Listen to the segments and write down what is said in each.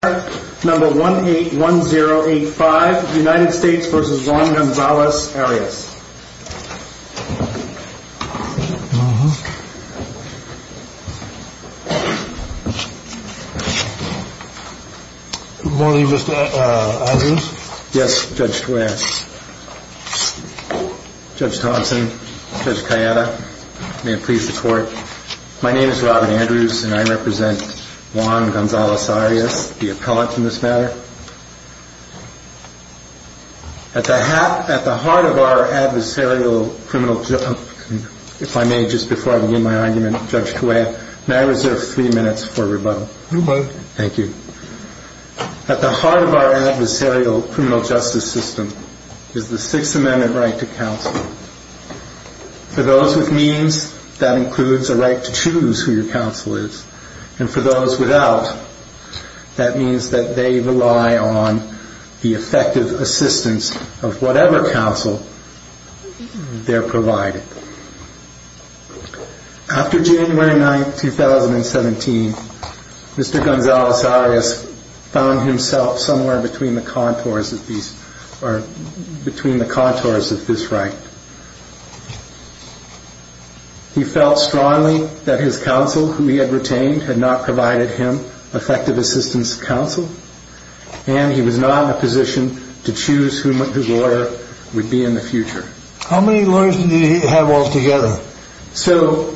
Good morning, Mr. Andrews. Yes, Judge Thompson, Judge Kayada. May it please the court. My name is Robin Andrews and I represent Juan Gonzalez-Arias, the appellant in this matter. At the heart of our adversarial criminal justice system is the Sixth Amendment right to counsel. For those without, that means that they rely on the effective assistance of whatever counsel they are provided. After January 9, 2017, Mr. Gonzalez-Arias found himself somewhere between the contours of this right. He felt strongly that his counsel whom he had retained had not provided him effective assistance of counsel, and he was not in a position to choose whose order would be in the future. How many lawyers did he have altogether? So,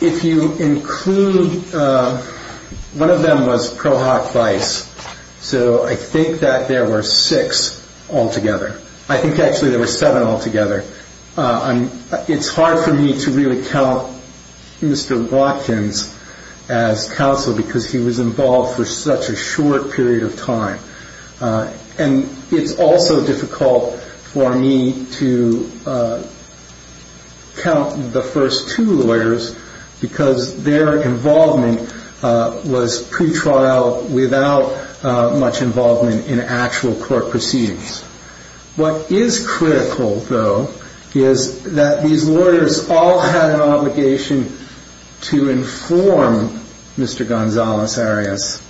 if you include, one of them was Prohoc Bice, so I think that there were six altogether. I think actually there were seven altogether. It's hard for me to really count Mr. Watkins as counsel because he was involved for such a short period of time. And it's also difficult for me to count the first two lawyers because their involvement was pre-trial without much involvement in actual court proceedings. What is critical, though, is that these lawyers all had an obligation to inform Mr. Gonzalez-Arias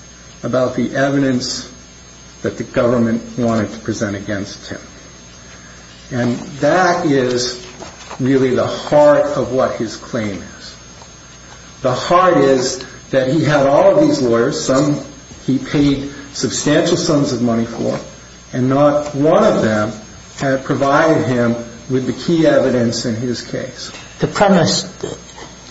about the evidence that the government wanted to present against him. And that is really the heart of what his claim is. The heart is that he had all of these lawyers, some he paid substantial sums of money for, and not one of them had provided him with the key evidence in his case. The premise,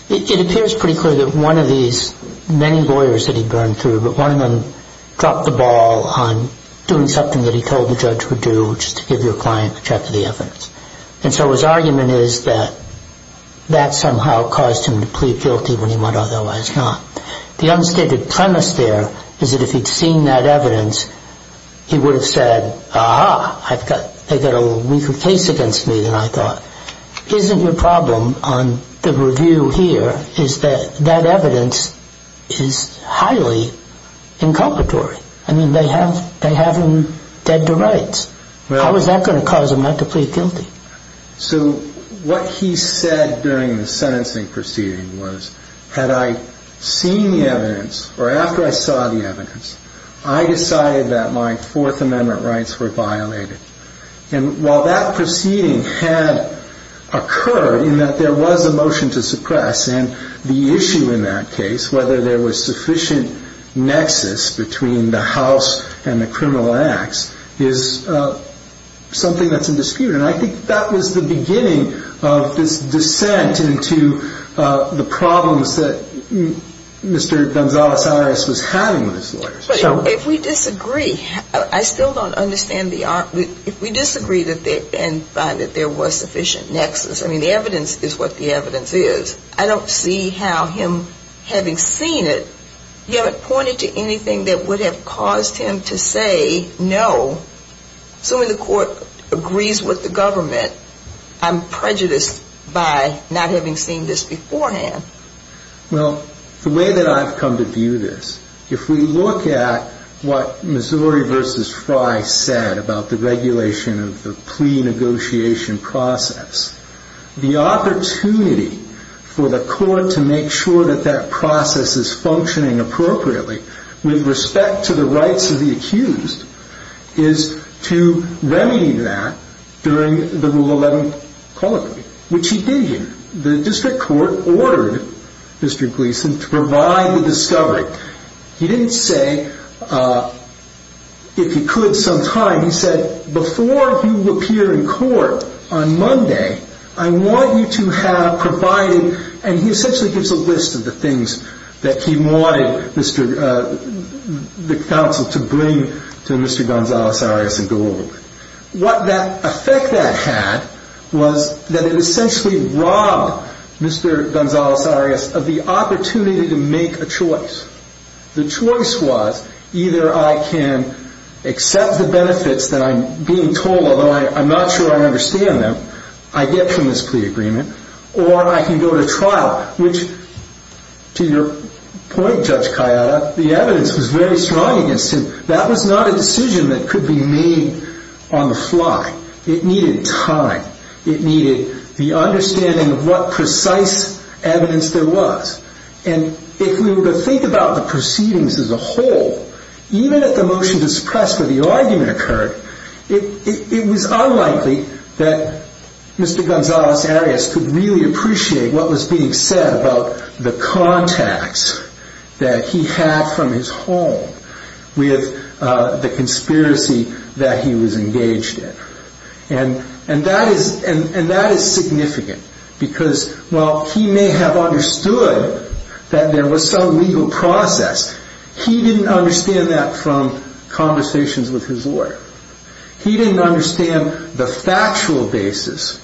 it appears pretty clear that one of these many lawyers that he burned through, one of them dropped the ball on doing something that he told the judge would do, which is to give your client a check of the evidence. And so his argument is that that somehow caused him to plead guilty when he might otherwise not. The unstated premise there is that if he'd seen that evidence, he would have said, aha, they've got a weaker case against me than I thought. Isn't your problem on the review here is that that evidence is highly inculcatory? I mean, they have him dead to rights. How is that going to cause him not to plead guilty? So what he said during the sentencing proceeding was, had I seen the evidence, or after I saw the evidence, I decided that my Fourth Amendment rights were violated. And while that proceeding had occurred in that there was a motion to suppress, and the issue in that case, whether there was sufficient nexus between the house and the criminal acts, is something that's in dispute. And I think that was the beginning of this descent into the problems that Mr. Gonzales-Iris was having with his lawyers. If we disagree, I still don't understand the argument. If we disagree and find that there was sufficient nexus, I mean, the evidence is what the evidence is. I don't see how him having seen it, you haven't pointed to anything that would have caused him to say no. Assuming the court agrees with the government, I'm prejudiced by not having seen this beforehand. Well, the way that I've come to view this, if we look at what Missouri v. Fry said about the regulation of the plea negotiation process, the opportunity for the court to make sure that that process is functioning appropriately with respect to the rights of the accused is to remedy that during the Rule 11 call agreement, which he did here. The district court ordered Mr. Gleason to provide the discovery. He didn't say if he could sometime. He said, before you appear in court on Monday, I want you to have provided, and he essentially gives a list of the things that he had. The effect that had was that it essentially robbed Mr. Gonzalez-Arias of the opportunity to make a choice. The choice was either I can accept the benefits that I'm being told, although I'm not sure I understand them, I get from this plea agreement, or I can go to trial, which, to your point, Judge Cayeta, the evidence was very strong against him. That was not a decision that could be made on the fly. It needed time. It needed the understanding of what precise evidence there was. And if we were to think about the proceedings as a whole, even if the motion to suppress the argument occurred, it was unlikely that Mr. Gonzalez-Arias could really appreciate what was being said about the contacts that he had from his home with the conspiracy that he was engaged in. And that is significant, because while he may have understood that there was some legal process, he didn't understand that from conversations with his lawyer. He didn't understand the factual basis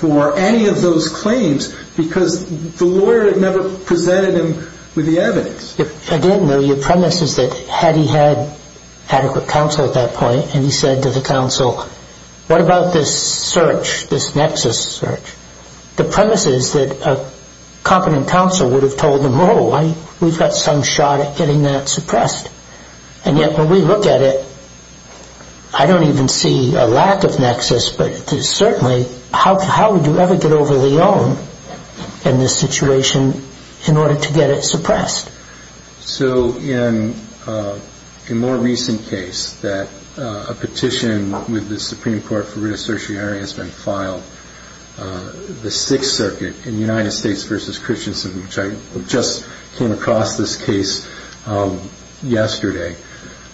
for any of those claims, because the lawyer had never presented him with the evidence. Again, though, your premise is that had he had adequate counsel at that point, and he said to the counsel, what about this search, this nexus search? The premise is that a competent counsel would have told him, oh, we've got some shot at getting that suppressed. And yet, when we look at it, I don't even see a lack of nexus, but certainly, how would you ever get over the loan in this situation in order to get it suppressed? So in a more recent case that a petition with the Supreme Court for writ of certiorari has been filed, the Sixth Circuit in United States v. Christensen, which I just came across this case yesterday,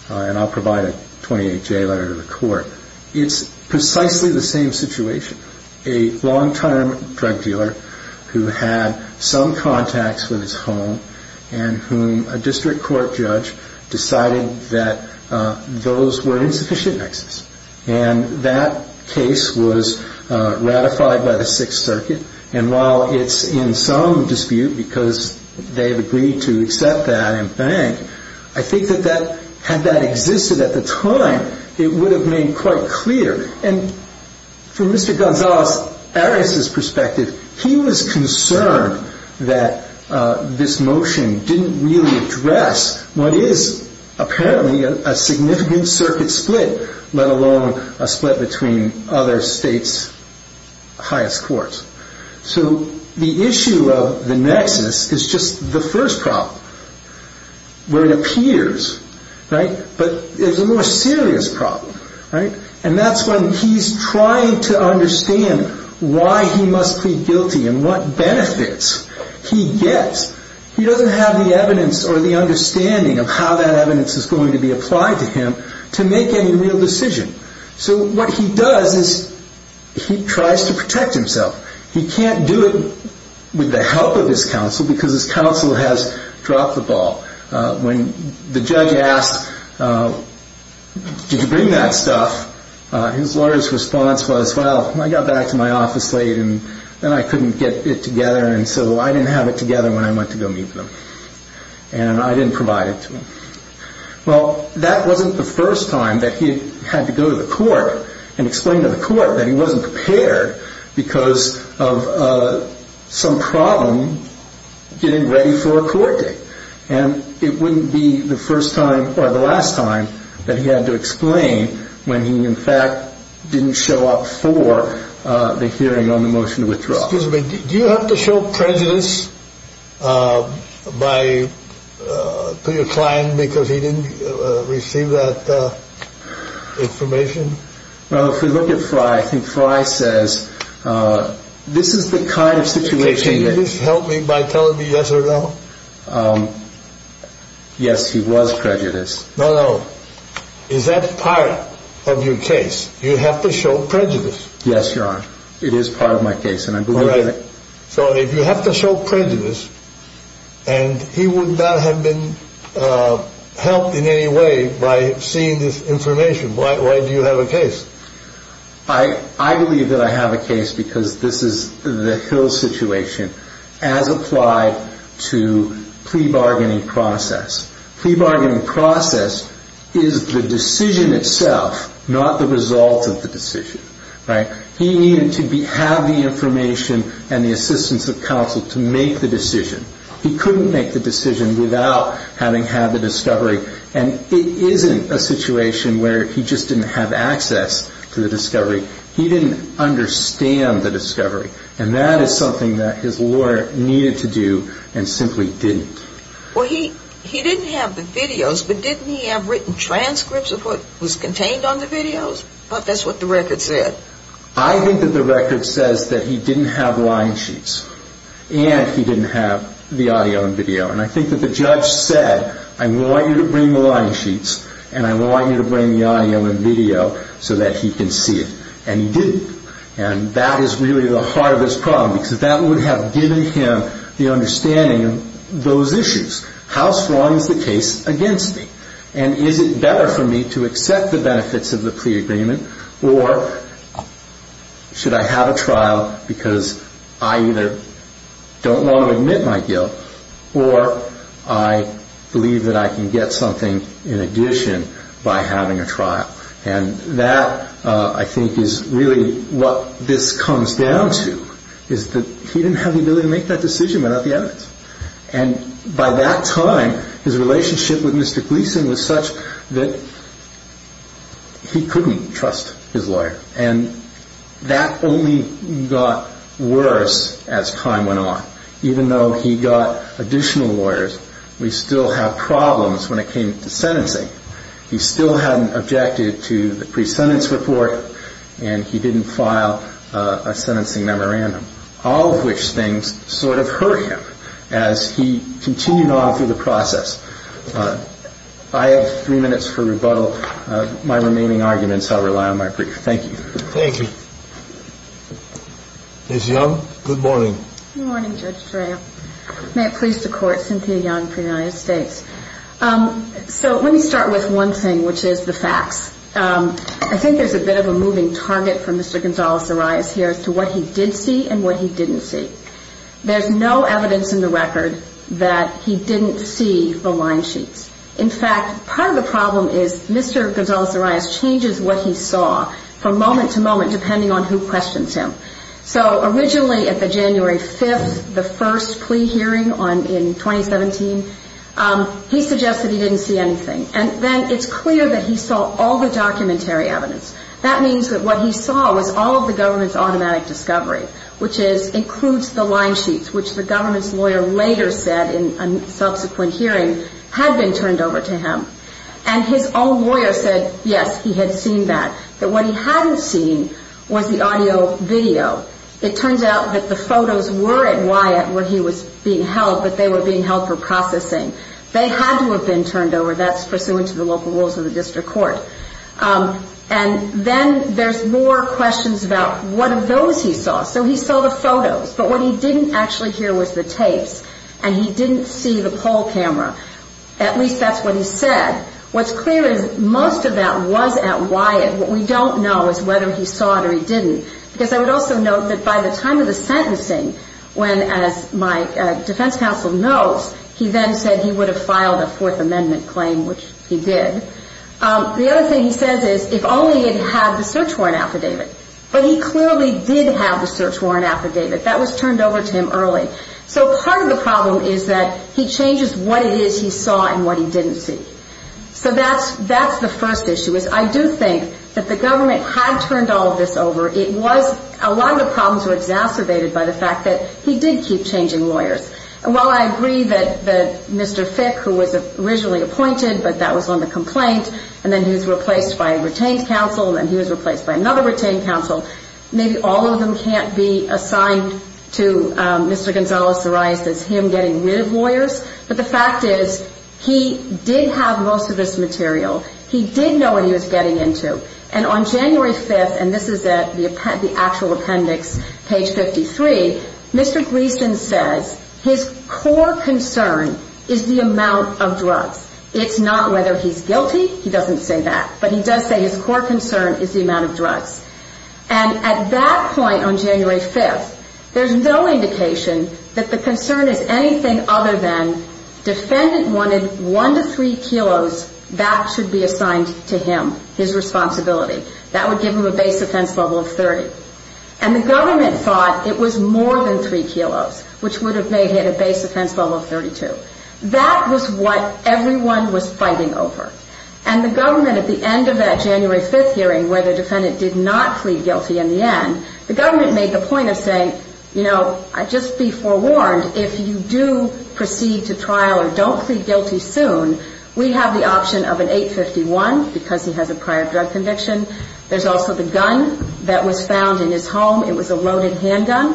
and I'll provide a 28-J letter to the court, it's precisely the same situation. A long-term drug dealer who had some contacts with his home and whom a district court judge decided that those were insufficient nexus. And that case was ratified by the Sixth Circuit. And while it's in some dispute because they've agreed to accept that and bank, I think that had that existed at the time, it would have made quite clear. And from Mr. Gonzalez, Arias' perspective, he was concerned that this motion didn't really address what is apparently a significant circuit split, let alone a split between other states' highest courts. So the issue of the nexus is just the first problem, where it appears, right? But there's a more serious problem, right? And that's when he's trying to understand why he must plead guilty and what benefits he gets. He doesn't have the evidence or the understanding of how that evidence is going to be applied to him to make any real decision. So what he does is he tries to protect himself. He can't do it with the help of his counsel who has dropped the ball. When the judge asked, did you bring that stuff? His lawyer's response was, well, I got back to my office late and then I couldn't get it together. And so I didn't have it together when I went to go meet with him. And I didn't provide it to him. Well, that wasn't the first time that he had to go to the court and explain to the court that he wasn't prepared because of some problem getting ready for a court date. And it wouldn't be the first time or the last time that he had to explain when he, in fact, didn't show up for the hearing on the motion to withdraw. Excuse me, did you have to show prejudice by your client because he didn't receive that information? Well, if we look at Frye, I think Frye says, this is the kind of situation. Can you just help me by telling me yes or no? Yes, he was prejudiced. No, no. Is that part of your case? You have to show prejudice. Yes, Your Honor. It is part of my case. So if you have to show prejudice and he would not have been helped in any way by seeing this information, why do you have a case? I believe that I have a case because this is the Hill situation as applied to plea bargaining process. Plea bargaining process is the decision itself, not the result of the decision. He needed to have the information and the assistance of counsel to make the decision. He couldn't make the decision without having had the discovery. And it isn't a situation where he just didn't have access to the discovery. He didn't understand the discovery. And that is something that his lawyer needed to do and simply didn't. Well, he didn't have the videos, but didn't he have written transcripts of what was contained on the videos? I thought that's what the record said. I think that the record says that he didn't have line sheets and he didn't have the audio and video. And I think that the judge said, I want you to bring the line sheets and I want you to bring the audio and video so that he can see it. And he didn't. And that is really the heart of this problem because that would have given him the understanding of those issues. How strong is the case against me? And is it better for me to accept the benefits of or I believe that I can get something in addition by having a trial. And that I think is really what this comes down to is that he didn't have the ability to make that decision without the evidence. And by that time, his relationship with Mr. Gleason was such that he couldn't trust his Even though he got additional lawyers, we still have problems when it came to sentencing. He still hadn't objected to the pre-sentence report and he didn't file a sentencing memorandum, all of which things sort of hurt him as he continued on through the process. I have three minutes for rebuttal. My remaining arguments, I'll rely on my brief. Thank you. Thank you. Ms. Young, good morning. Good morning, Judge Torreo. May it please the court, Cynthia Young for the United States. So let me start with one thing, which is the facts. I think there's a bit of a moving target for Mr. Gonzales-Zarayas here as to what he did see and what he didn't see. There's no evidence in the record that he didn't see the line sheets. In fact, part of the problem is Mr. Gonzales-Zarayas changes what he saw from moment to moment, depending on who questions him. So originally at the January 5th, the first plea hearing in 2017, he suggested he didn't see anything. And then it's clear that he saw all the documentary evidence. That means that what he saw was all of the government's automatic discovery, which includes the line sheets, which the government's lawyer later said in a subsequent hearing had been turned over to him. And his own lawyer said, yes, he had seen that. But what he hadn't seen was the audio video. It turns out that the photos were at Wyatt where he was being held, but they were being held for processing. They had to have been turned over. That's pursuant to the local rules of the district court. And then there's more questions about what of those he saw. So he saw the photos, but what he didn't actually hear was the tapes. And he didn't see the poll camera. At least that's what he said. What's clear is most of that was at Wyatt. What we don't know is whether he saw it or he didn't. Because I would also note that by the time of the sentencing, when, as my defense counsel knows, he then said he would have filed a Fourth Amendment claim, which he did. The other thing he says is, if only he had had the search warrant affidavit. But he clearly did have the search warrant affidavit. That was turned over to him early. So part of the problem is that he changes what it is he saw and what he didn't see. So that's the first issue. I do think that the government had turned all of this over. A lot of the problems were exacerbated by the fact that he did keep changing lawyers. And while I agree that Mr. Fick, who was originally appointed, but that was on the complaint, and then he was replaced by a retained counsel, and then he was replaced by another retained counsel, maybe all of them can't be assigned to Mr. Gonzalez-Sorais as him getting rid of lawyers. But the fact is, he did have most of this material. He did know what he was getting into. And on January 5th, and this is at the actual appendix, page 53, Mr. Gleason says his core concern is the amount of drugs. It's not whether he's guilty. He doesn't say that. But he does say his core concern is the amount of drugs. And at that point on January 5th, there's no indication that the concern is anything other than defendant wanted one to three kilos that should be assigned to him, his responsibility. That would give him a base offense level of 30. And the government thought it was more than three kilos, which would have made him a base offense level of 32. That was what everyone was fighting over. And the government at the end of that January 5th hearing where the defendant did not plead guilty in the end, the government made the point of saying, you know, just be forewarned, if you do proceed to trial or don't plead guilty soon, we have the option of an 851 because he has a prior drug conviction. There's also the gun that was found in his home. It was a loaded handgun.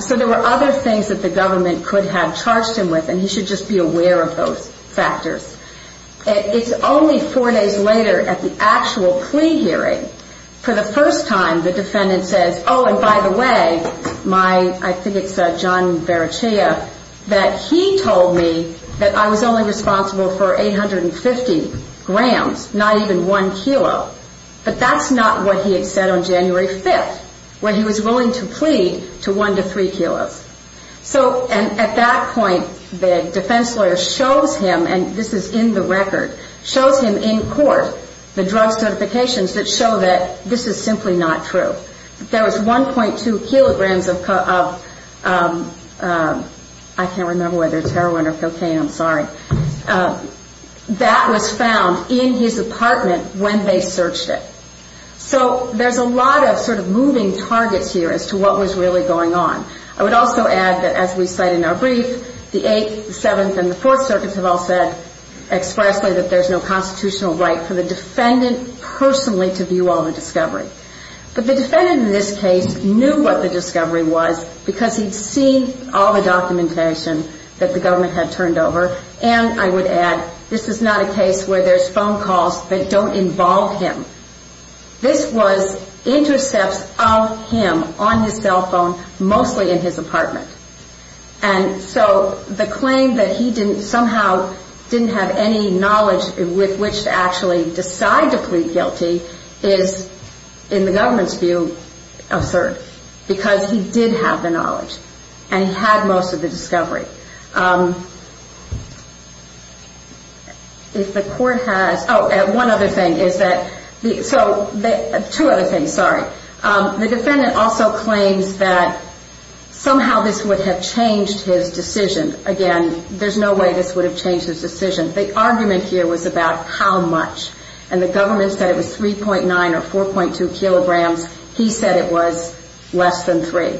So there were other things that the government could have charged him with and he should just be aware of those factors. It's only four days later at the actual plea hearing, for the first time, the defendant says, oh, and by the way, my, I think it's John Verichea, that he told me that I was only responsible for 850 grams, not even one kilo. But that's not what he had said on January 5th, when he was willing to plead to one to three kilos. So at that point, the defense lawyer shows him, and this is in the record, shows him in court the drug certifications that show that this is simply not true. There was 1.2 kilograms of, I can't remember whether it's heroin or cocaine, I'm sorry, that was a lot of sort of moving targets here as to what was really going on. I would also add that as we cite in our brief, the 8th, the 7th, and the 4th circuits have all said expressly that there's no constitutional right for the defendant personally to view all the discovery. But the defendant in this case knew what the discovery was because he'd seen all the documentation that the government had turned over, and I would add, this is not a This was intercepts of him on his cell phone, mostly in his apartment. And so the claim that he somehow didn't have any knowledge with which to actually decide to plead guilty is, in the government's view, absurd, because he did have the knowledge, and he had most of the discovery. If the court has, oh, and one other thing is that, so two other things, sorry. The defendant also claims that somehow this would have changed his decision. Again, there's no way this would have changed his decision. The argument here was about how much, and the government said it was 3.9 or 4.2 kilograms. He said it was less than 3.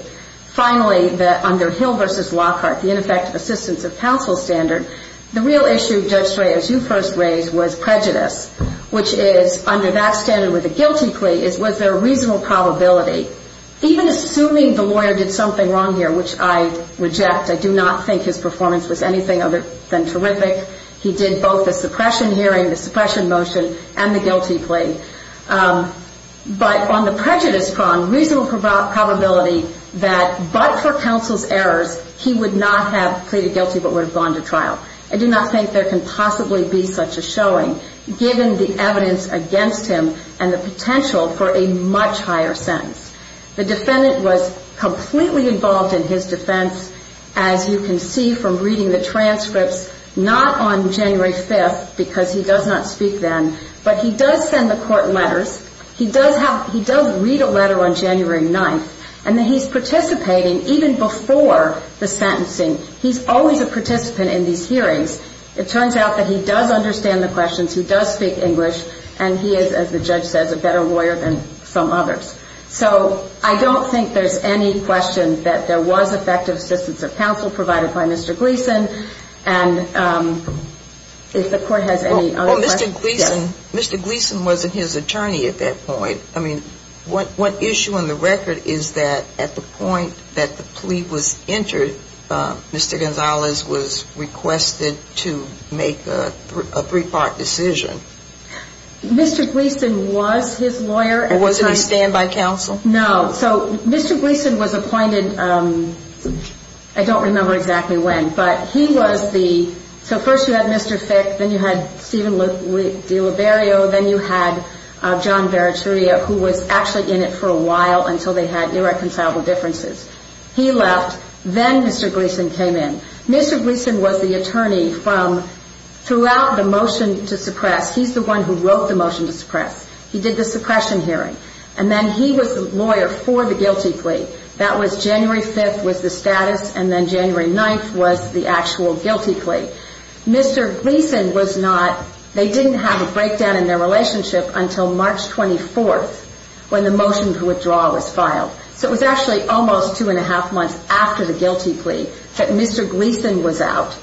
Finally, under Hill v. Lockhart, the ineffective assistance of counsel standard, the real issue, Judge Strayer, as you first raised, was prejudice, which is, under that standard with a guilty plea, was there a reasonable probability, even assuming the lawyer did something wrong here, which I reject. I do not think his performance was anything other than terrific. He did both the suppression motion and the guilty plea. But on the prejudice prong, reasonable probability that, but for counsel's errors, he would not have pleaded guilty but would have gone to trial. I do not think there can possibly be such a showing, given the evidence against him and the potential for a much higher sentence. The defendant was completely involved in his defense, as you can see from reading the transcripts, not on January 5th, because he does not speak then, but he does send the court letters. He does read a letter on January 9th, and he's participating even before the sentencing. He's always a participant in these hearings. It turns out that he does understand the questions, he does speak English, and he is, as the judge says, a better lawyer than some others. So I don't think there's any question that there was effective assistance of counsel provided by Mr. Gleeson, and if the court has any other questions. Well, Mr. Gleeson, Mr. Gleeson wasn't his attorney at that point. I mean, what issue on the record is that at the point that the plea was entered, Mr. Gonzalez was requested to make a three-part decision? Mr. Gleeson was his lawyer at the time. Was it a standby counsel? No. So Mr. Gleeson was appointed, I don't remember exactly when, but he was the, so first you had Mr. Fick, then you had Stephen DiLiberio, then you had John Verituria, who was actually in it for a while until they had irreconcilable differences. He left, then Mr. Gleeson came in. Mr. Gleeson was the attorney from throughout the motion to suppress, he's the one who wrote the motion to suppress. He did the suppression hearing, and then he was the lawyer for the guilty plea. That was January 5th was the status, and then January 9th was the actual guilty plea. Mr. Gleeson was not, they didn't have a breakdown in their relationship until March 24th when the motion for withdrawal was filed. So it was actually almost two and a half months after the guilty plea that Mr. Gleeson was out.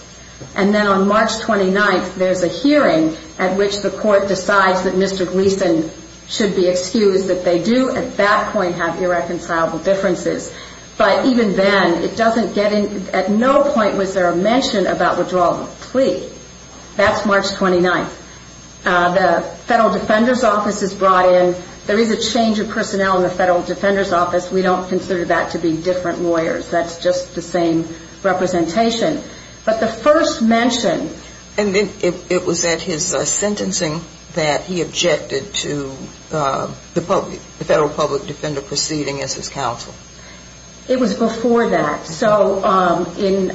And then on March 29th, there's a hearing at which the court decides that Mr. Gleeson should be excused, that they do at that point have irreconcilable differences. But even then, it doesn't get in, at no point was there a mention about withdrawal of the plea. That's March 29th. The Federal Defender's Office is brought in. There is a change of personnel in the Federal Defender's Office. We don't consider that to be different lawyers. That's just the same representation. But the first mention... And it was at his sentencing that he objected to the Federal Public Defender proceeding as his counsel? It was before that. So in,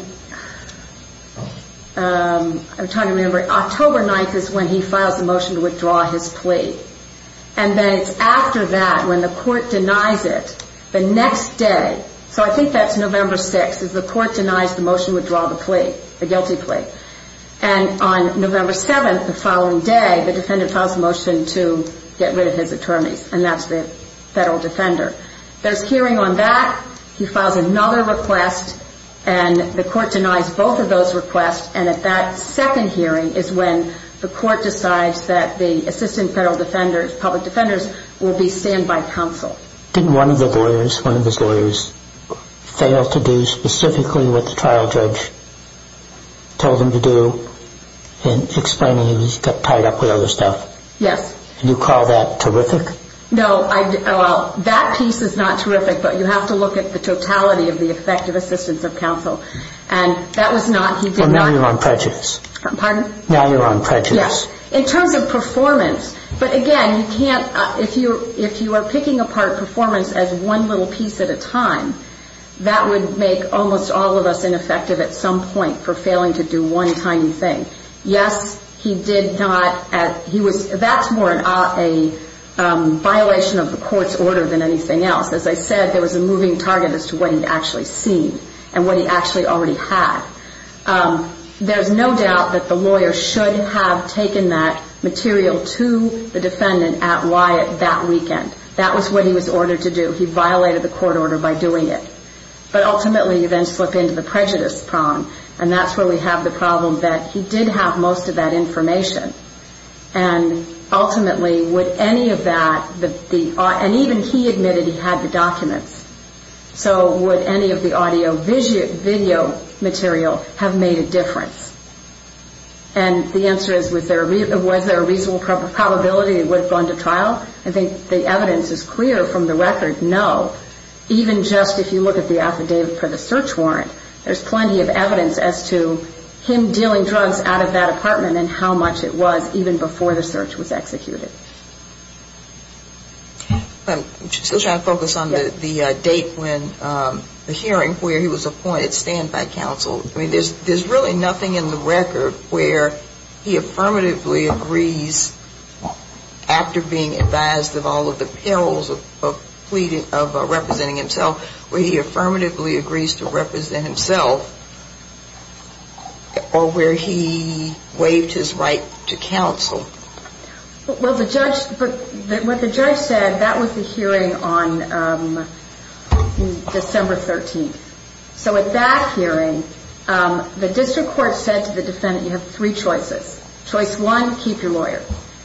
I'm trying to remember, October 9th is when he files the motion to withdraw his plea. And then it's after that, when the court denies it, the next day, so I think that's November 6th, is the court denies the motion to withdraw the plea, the guilty plea. And on that, he files another request, and the court denies both of those requests. And at that second hearing is when the court decides that the Assistant Federal Defenders, Public Defenders, will be stand-by counsel. Didn't one of the lawyers, one of his lawyers, fail to do specifically what the trial judge told him to do in explaining he was tied up with other stuff? Yes. Do you call that terrific? No, I, well, that piece is not terrific, but you have to look at the totality of the effective assistance of counsel. And that was not, he did not... Well, now you're on prejudice. Pardon? Now you're on prejudice. Yes. In terms of performance, but again, you can't, if you, if you are picking apart performance as one little piece at a time, that would make almost all of us ineffective at some point for failing to do one tiny thing. Yes, he did not, he was, that's more a violation of the court's order than anything else. As I said, there was a moving target as to what he'd actually seen, and what he actually already had. There's no doubt that the lawyer should have taken that material to the defendant at Wyatt that weekend. That was what he was ordered to do. He violated the court order by doing it. But ultimately, you then slip into the prejudice prong, and that's where we have the problem that he did have most of that information. And ultimately, would any of that, the, and even he admitted he had the documents, so would any of the audio video material have made a difference? And the answer is, was there a reasonable probability it would have gone to trial? I think the evidence is clear from the record, no. Even just if you look at the affidavit for the search warrant, there's plenty of evidence as to him dealing drugs out of that apartment, and how much it was even before the search was executed. I'm still trying to focus on the date when, the hearing where he was appointed stand by counsel. I mean, there's really nothing in the record where he affirmatively agrees, after being advised of all of the perils of pleading, of representing himself, where he affirmatively agrees to represent himself, or where he waived his right to counsel. Well, the judge, what the judge said, that was the hearing on December 13th. So at that hearing, the district court said to the defendant, you have three choices. Choice one, keep your lawyer.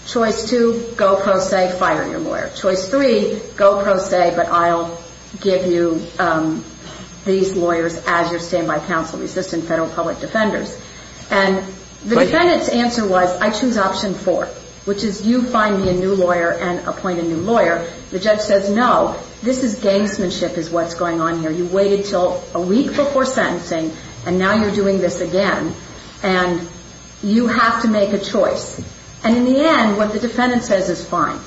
Choice two, go pro se, fire your lawyer. Choice three, go pro se, but I'll give you these lawyers as your stand by counsel, resistant federal public defenders. And the defendant's answer was, I choose option four, which is you find me a new lawyer and appoint a new lawyer. The judge says, no, this is gangsmanship is what's going on here. You waited until a week before sentencing, and now you're doing this again. And you have to make a choice. And in the end, what the defendant says is fine.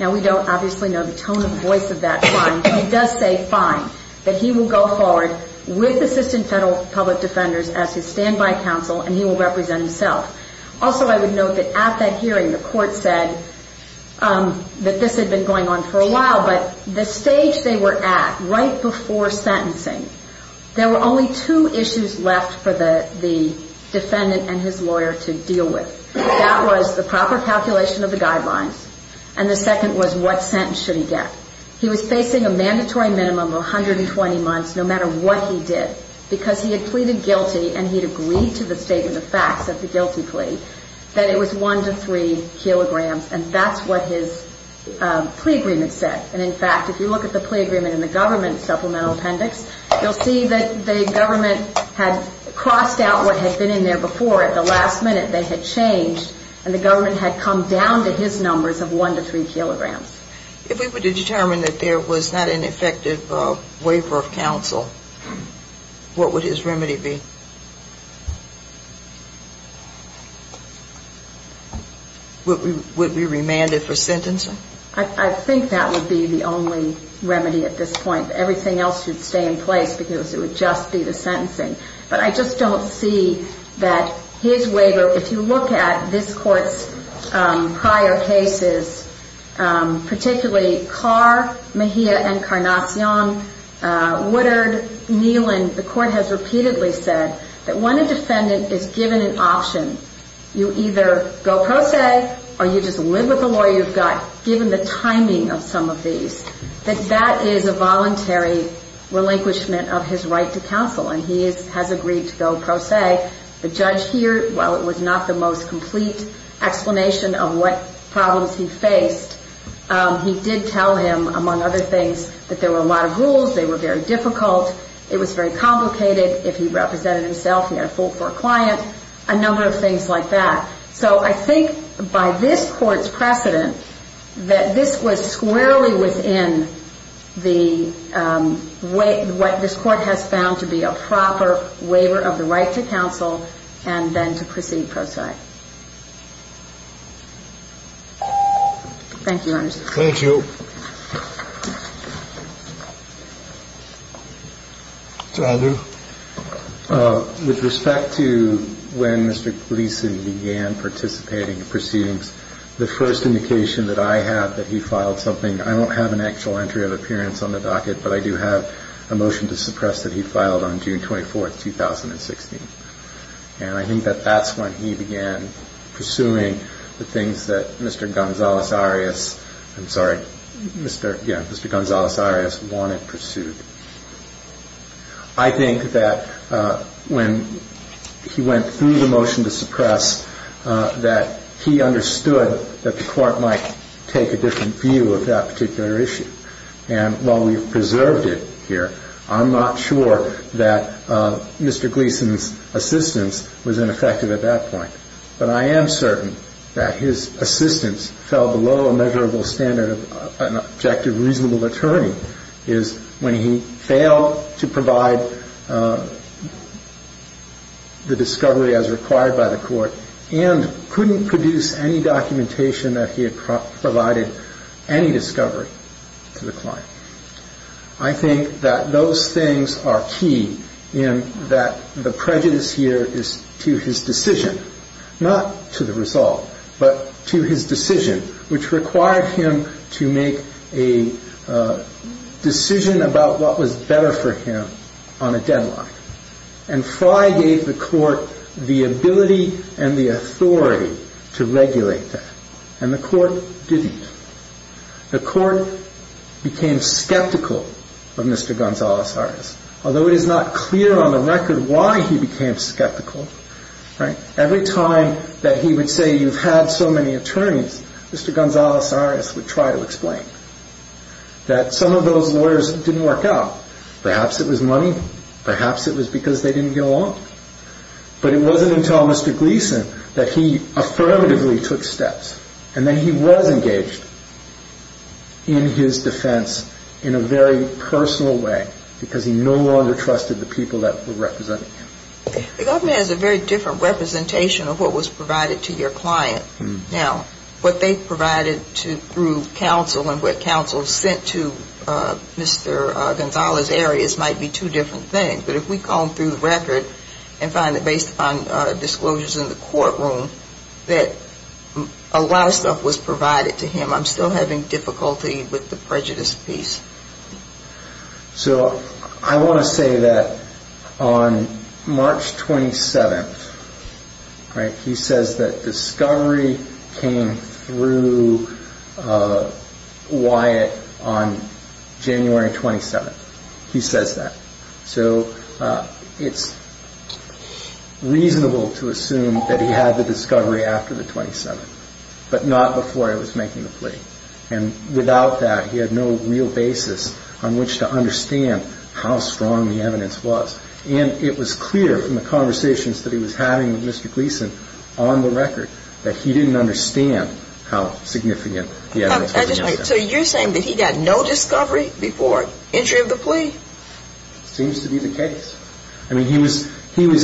Now, we don't obviously know the tone of voice of that client, but he does say fine, that he will go forward with assistant federal public defenders as his stand by counsel, and he will represent himself. Also, I would note that at that hearing, the court said that this had been going on for a while, but the stage they were at right before sentencing, there were only two issues left for the defendant and his lawyer to deal with. That was the proper calculation of the guidelines, and the second was what sentence should he get. He was facing a because he had pleaded guilty, and he had agreed to the statement of facts of the guilty plea, that it was one to three kilograms, and that's what his plea agreement said. And in fact, if you look at the plea agreement in the government supplemental appendix, you'll see that the government had crossed out what had been in there before. At the last minute, they had changed, and the government had come down to his numbers of one to three kilograms. If we were to determine that there was not an effective waiver of counsel, what would his remedy be? Would we remand it for sentencing? I think that would be the only remedy at this point. Everything else should stay in place because it would just be the sentencing. But I just don't see that his waiver, if you look at this court's prior cases, particularly Carr, Mejia, and Carnation, Woodard, Neelan, the court has repeatedly said that when a defendant is given an option, you either go pro se, or you just live with the lawyer you've got. Given the timing of some of these, that that is a voluntary relinquishment of his right to counsel, and he has agreed to go pro se. The judge here, while it was not the most complete explanation of what problems he faced, he did tell him, among other things, that there were a lot of rules. They were very difficult. It was very complicated. If he represented himself, he had a full court client, a number of things like that. So I think by this court's precedent, that this was squarely within what this court has found to be a proper waiver of the right to counsel, and then to proceed pro se. So, I'm going to go back. Thank you. Thank you. With respect to when Mr. Gleason began participating in proceedings, the first indication that I have that he filed something, I don't have an actual entry of appearance on the docket, but I do have a motion to suppress that he filed on June 24th, 2016. And I think that that's when he began pursuing the things that Mr. Gonzalez Arias, I'm sorry, Mr. Gonzalez Arias wanted pursued. I think that when he went through the motion to suppress, that he understood that the court might take a different view of that particular issue. And while we've preserved it here, I'm not sure that Mr. Gleason's assistance was ineffective at that point. But I am certain that his assistance fell below a measurable standard of an objective, reasonable attorney. I think that those things are key in that the prejudice here is to his decision, not to the resolve, but to his decision, which required him to make a decision that he was going to make. He made a decision about what was better for him on a deadline. And Fry gave the court the ability and the authority to regulate that. And the court didn't. The court became skeptical of Mr. Gonzalez Arias, although it is not clear on the record why he became skeptical. Every time that he would say, you've had so many attorneys, Mr. Gonzalez Arias would try to explain that some of those lawyers didn't work out. Perhaps it was money. Perhaps it was because they didn't get along. But it wasn't until Mr. Gleason that he affirmatively took steps and that he was engaged in his defense in a very personal way, because he no longer trusted the people that were representing him. The government has a very different representation of what was provided to your client. Now, what they provided through counsel and what counsel sent to Mr. Gonzalez Arias might be two different things. But if we call them through the record and find that based upon disclosures in the courtroom that a lot of stuff was provided to him, I'm still having difficulty with the prejudice piece. So I want to say that on March 27th, he says that discovery came through Wyatt on January 27th. He says that. So it's reasonable to assume that he had the discovery after the 27th, but not before he was making the plea. And without that, he had no real basis on which to understand how strong the evidence was. And it was clear from the conversations that he was having with Mr. Gleason on the record that he didn't understand how significant the evidence was. So you're saying that he got no discovery before entry of the plea? Seems to be the case. I mean, he was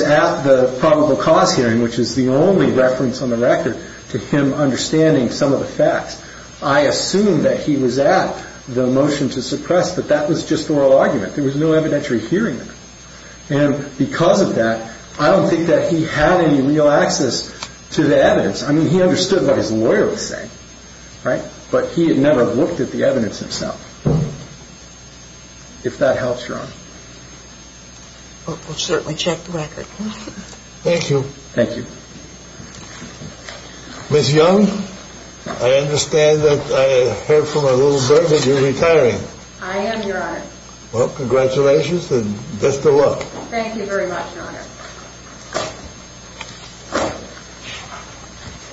at the probable cause hearing, which is the only reference on the record to him understanding some of the facts. I assume that he was at the motion to suppress, but that was just the oral argument. There was no evidentiary hearing. And because of that, I don't think that he had any real access to the evidence. I mean, he understood what his lawyer was saying, right? But he had never looked at the evidence himself. If that helps, Your Honor. We'll certainly check the record. Thank you. Thank you. Ms. Young, I understand that I heard from a little bird that you're retiring. I am, Your Honor. Well, congratulations and best of luck. Thank you very much, Your Honor.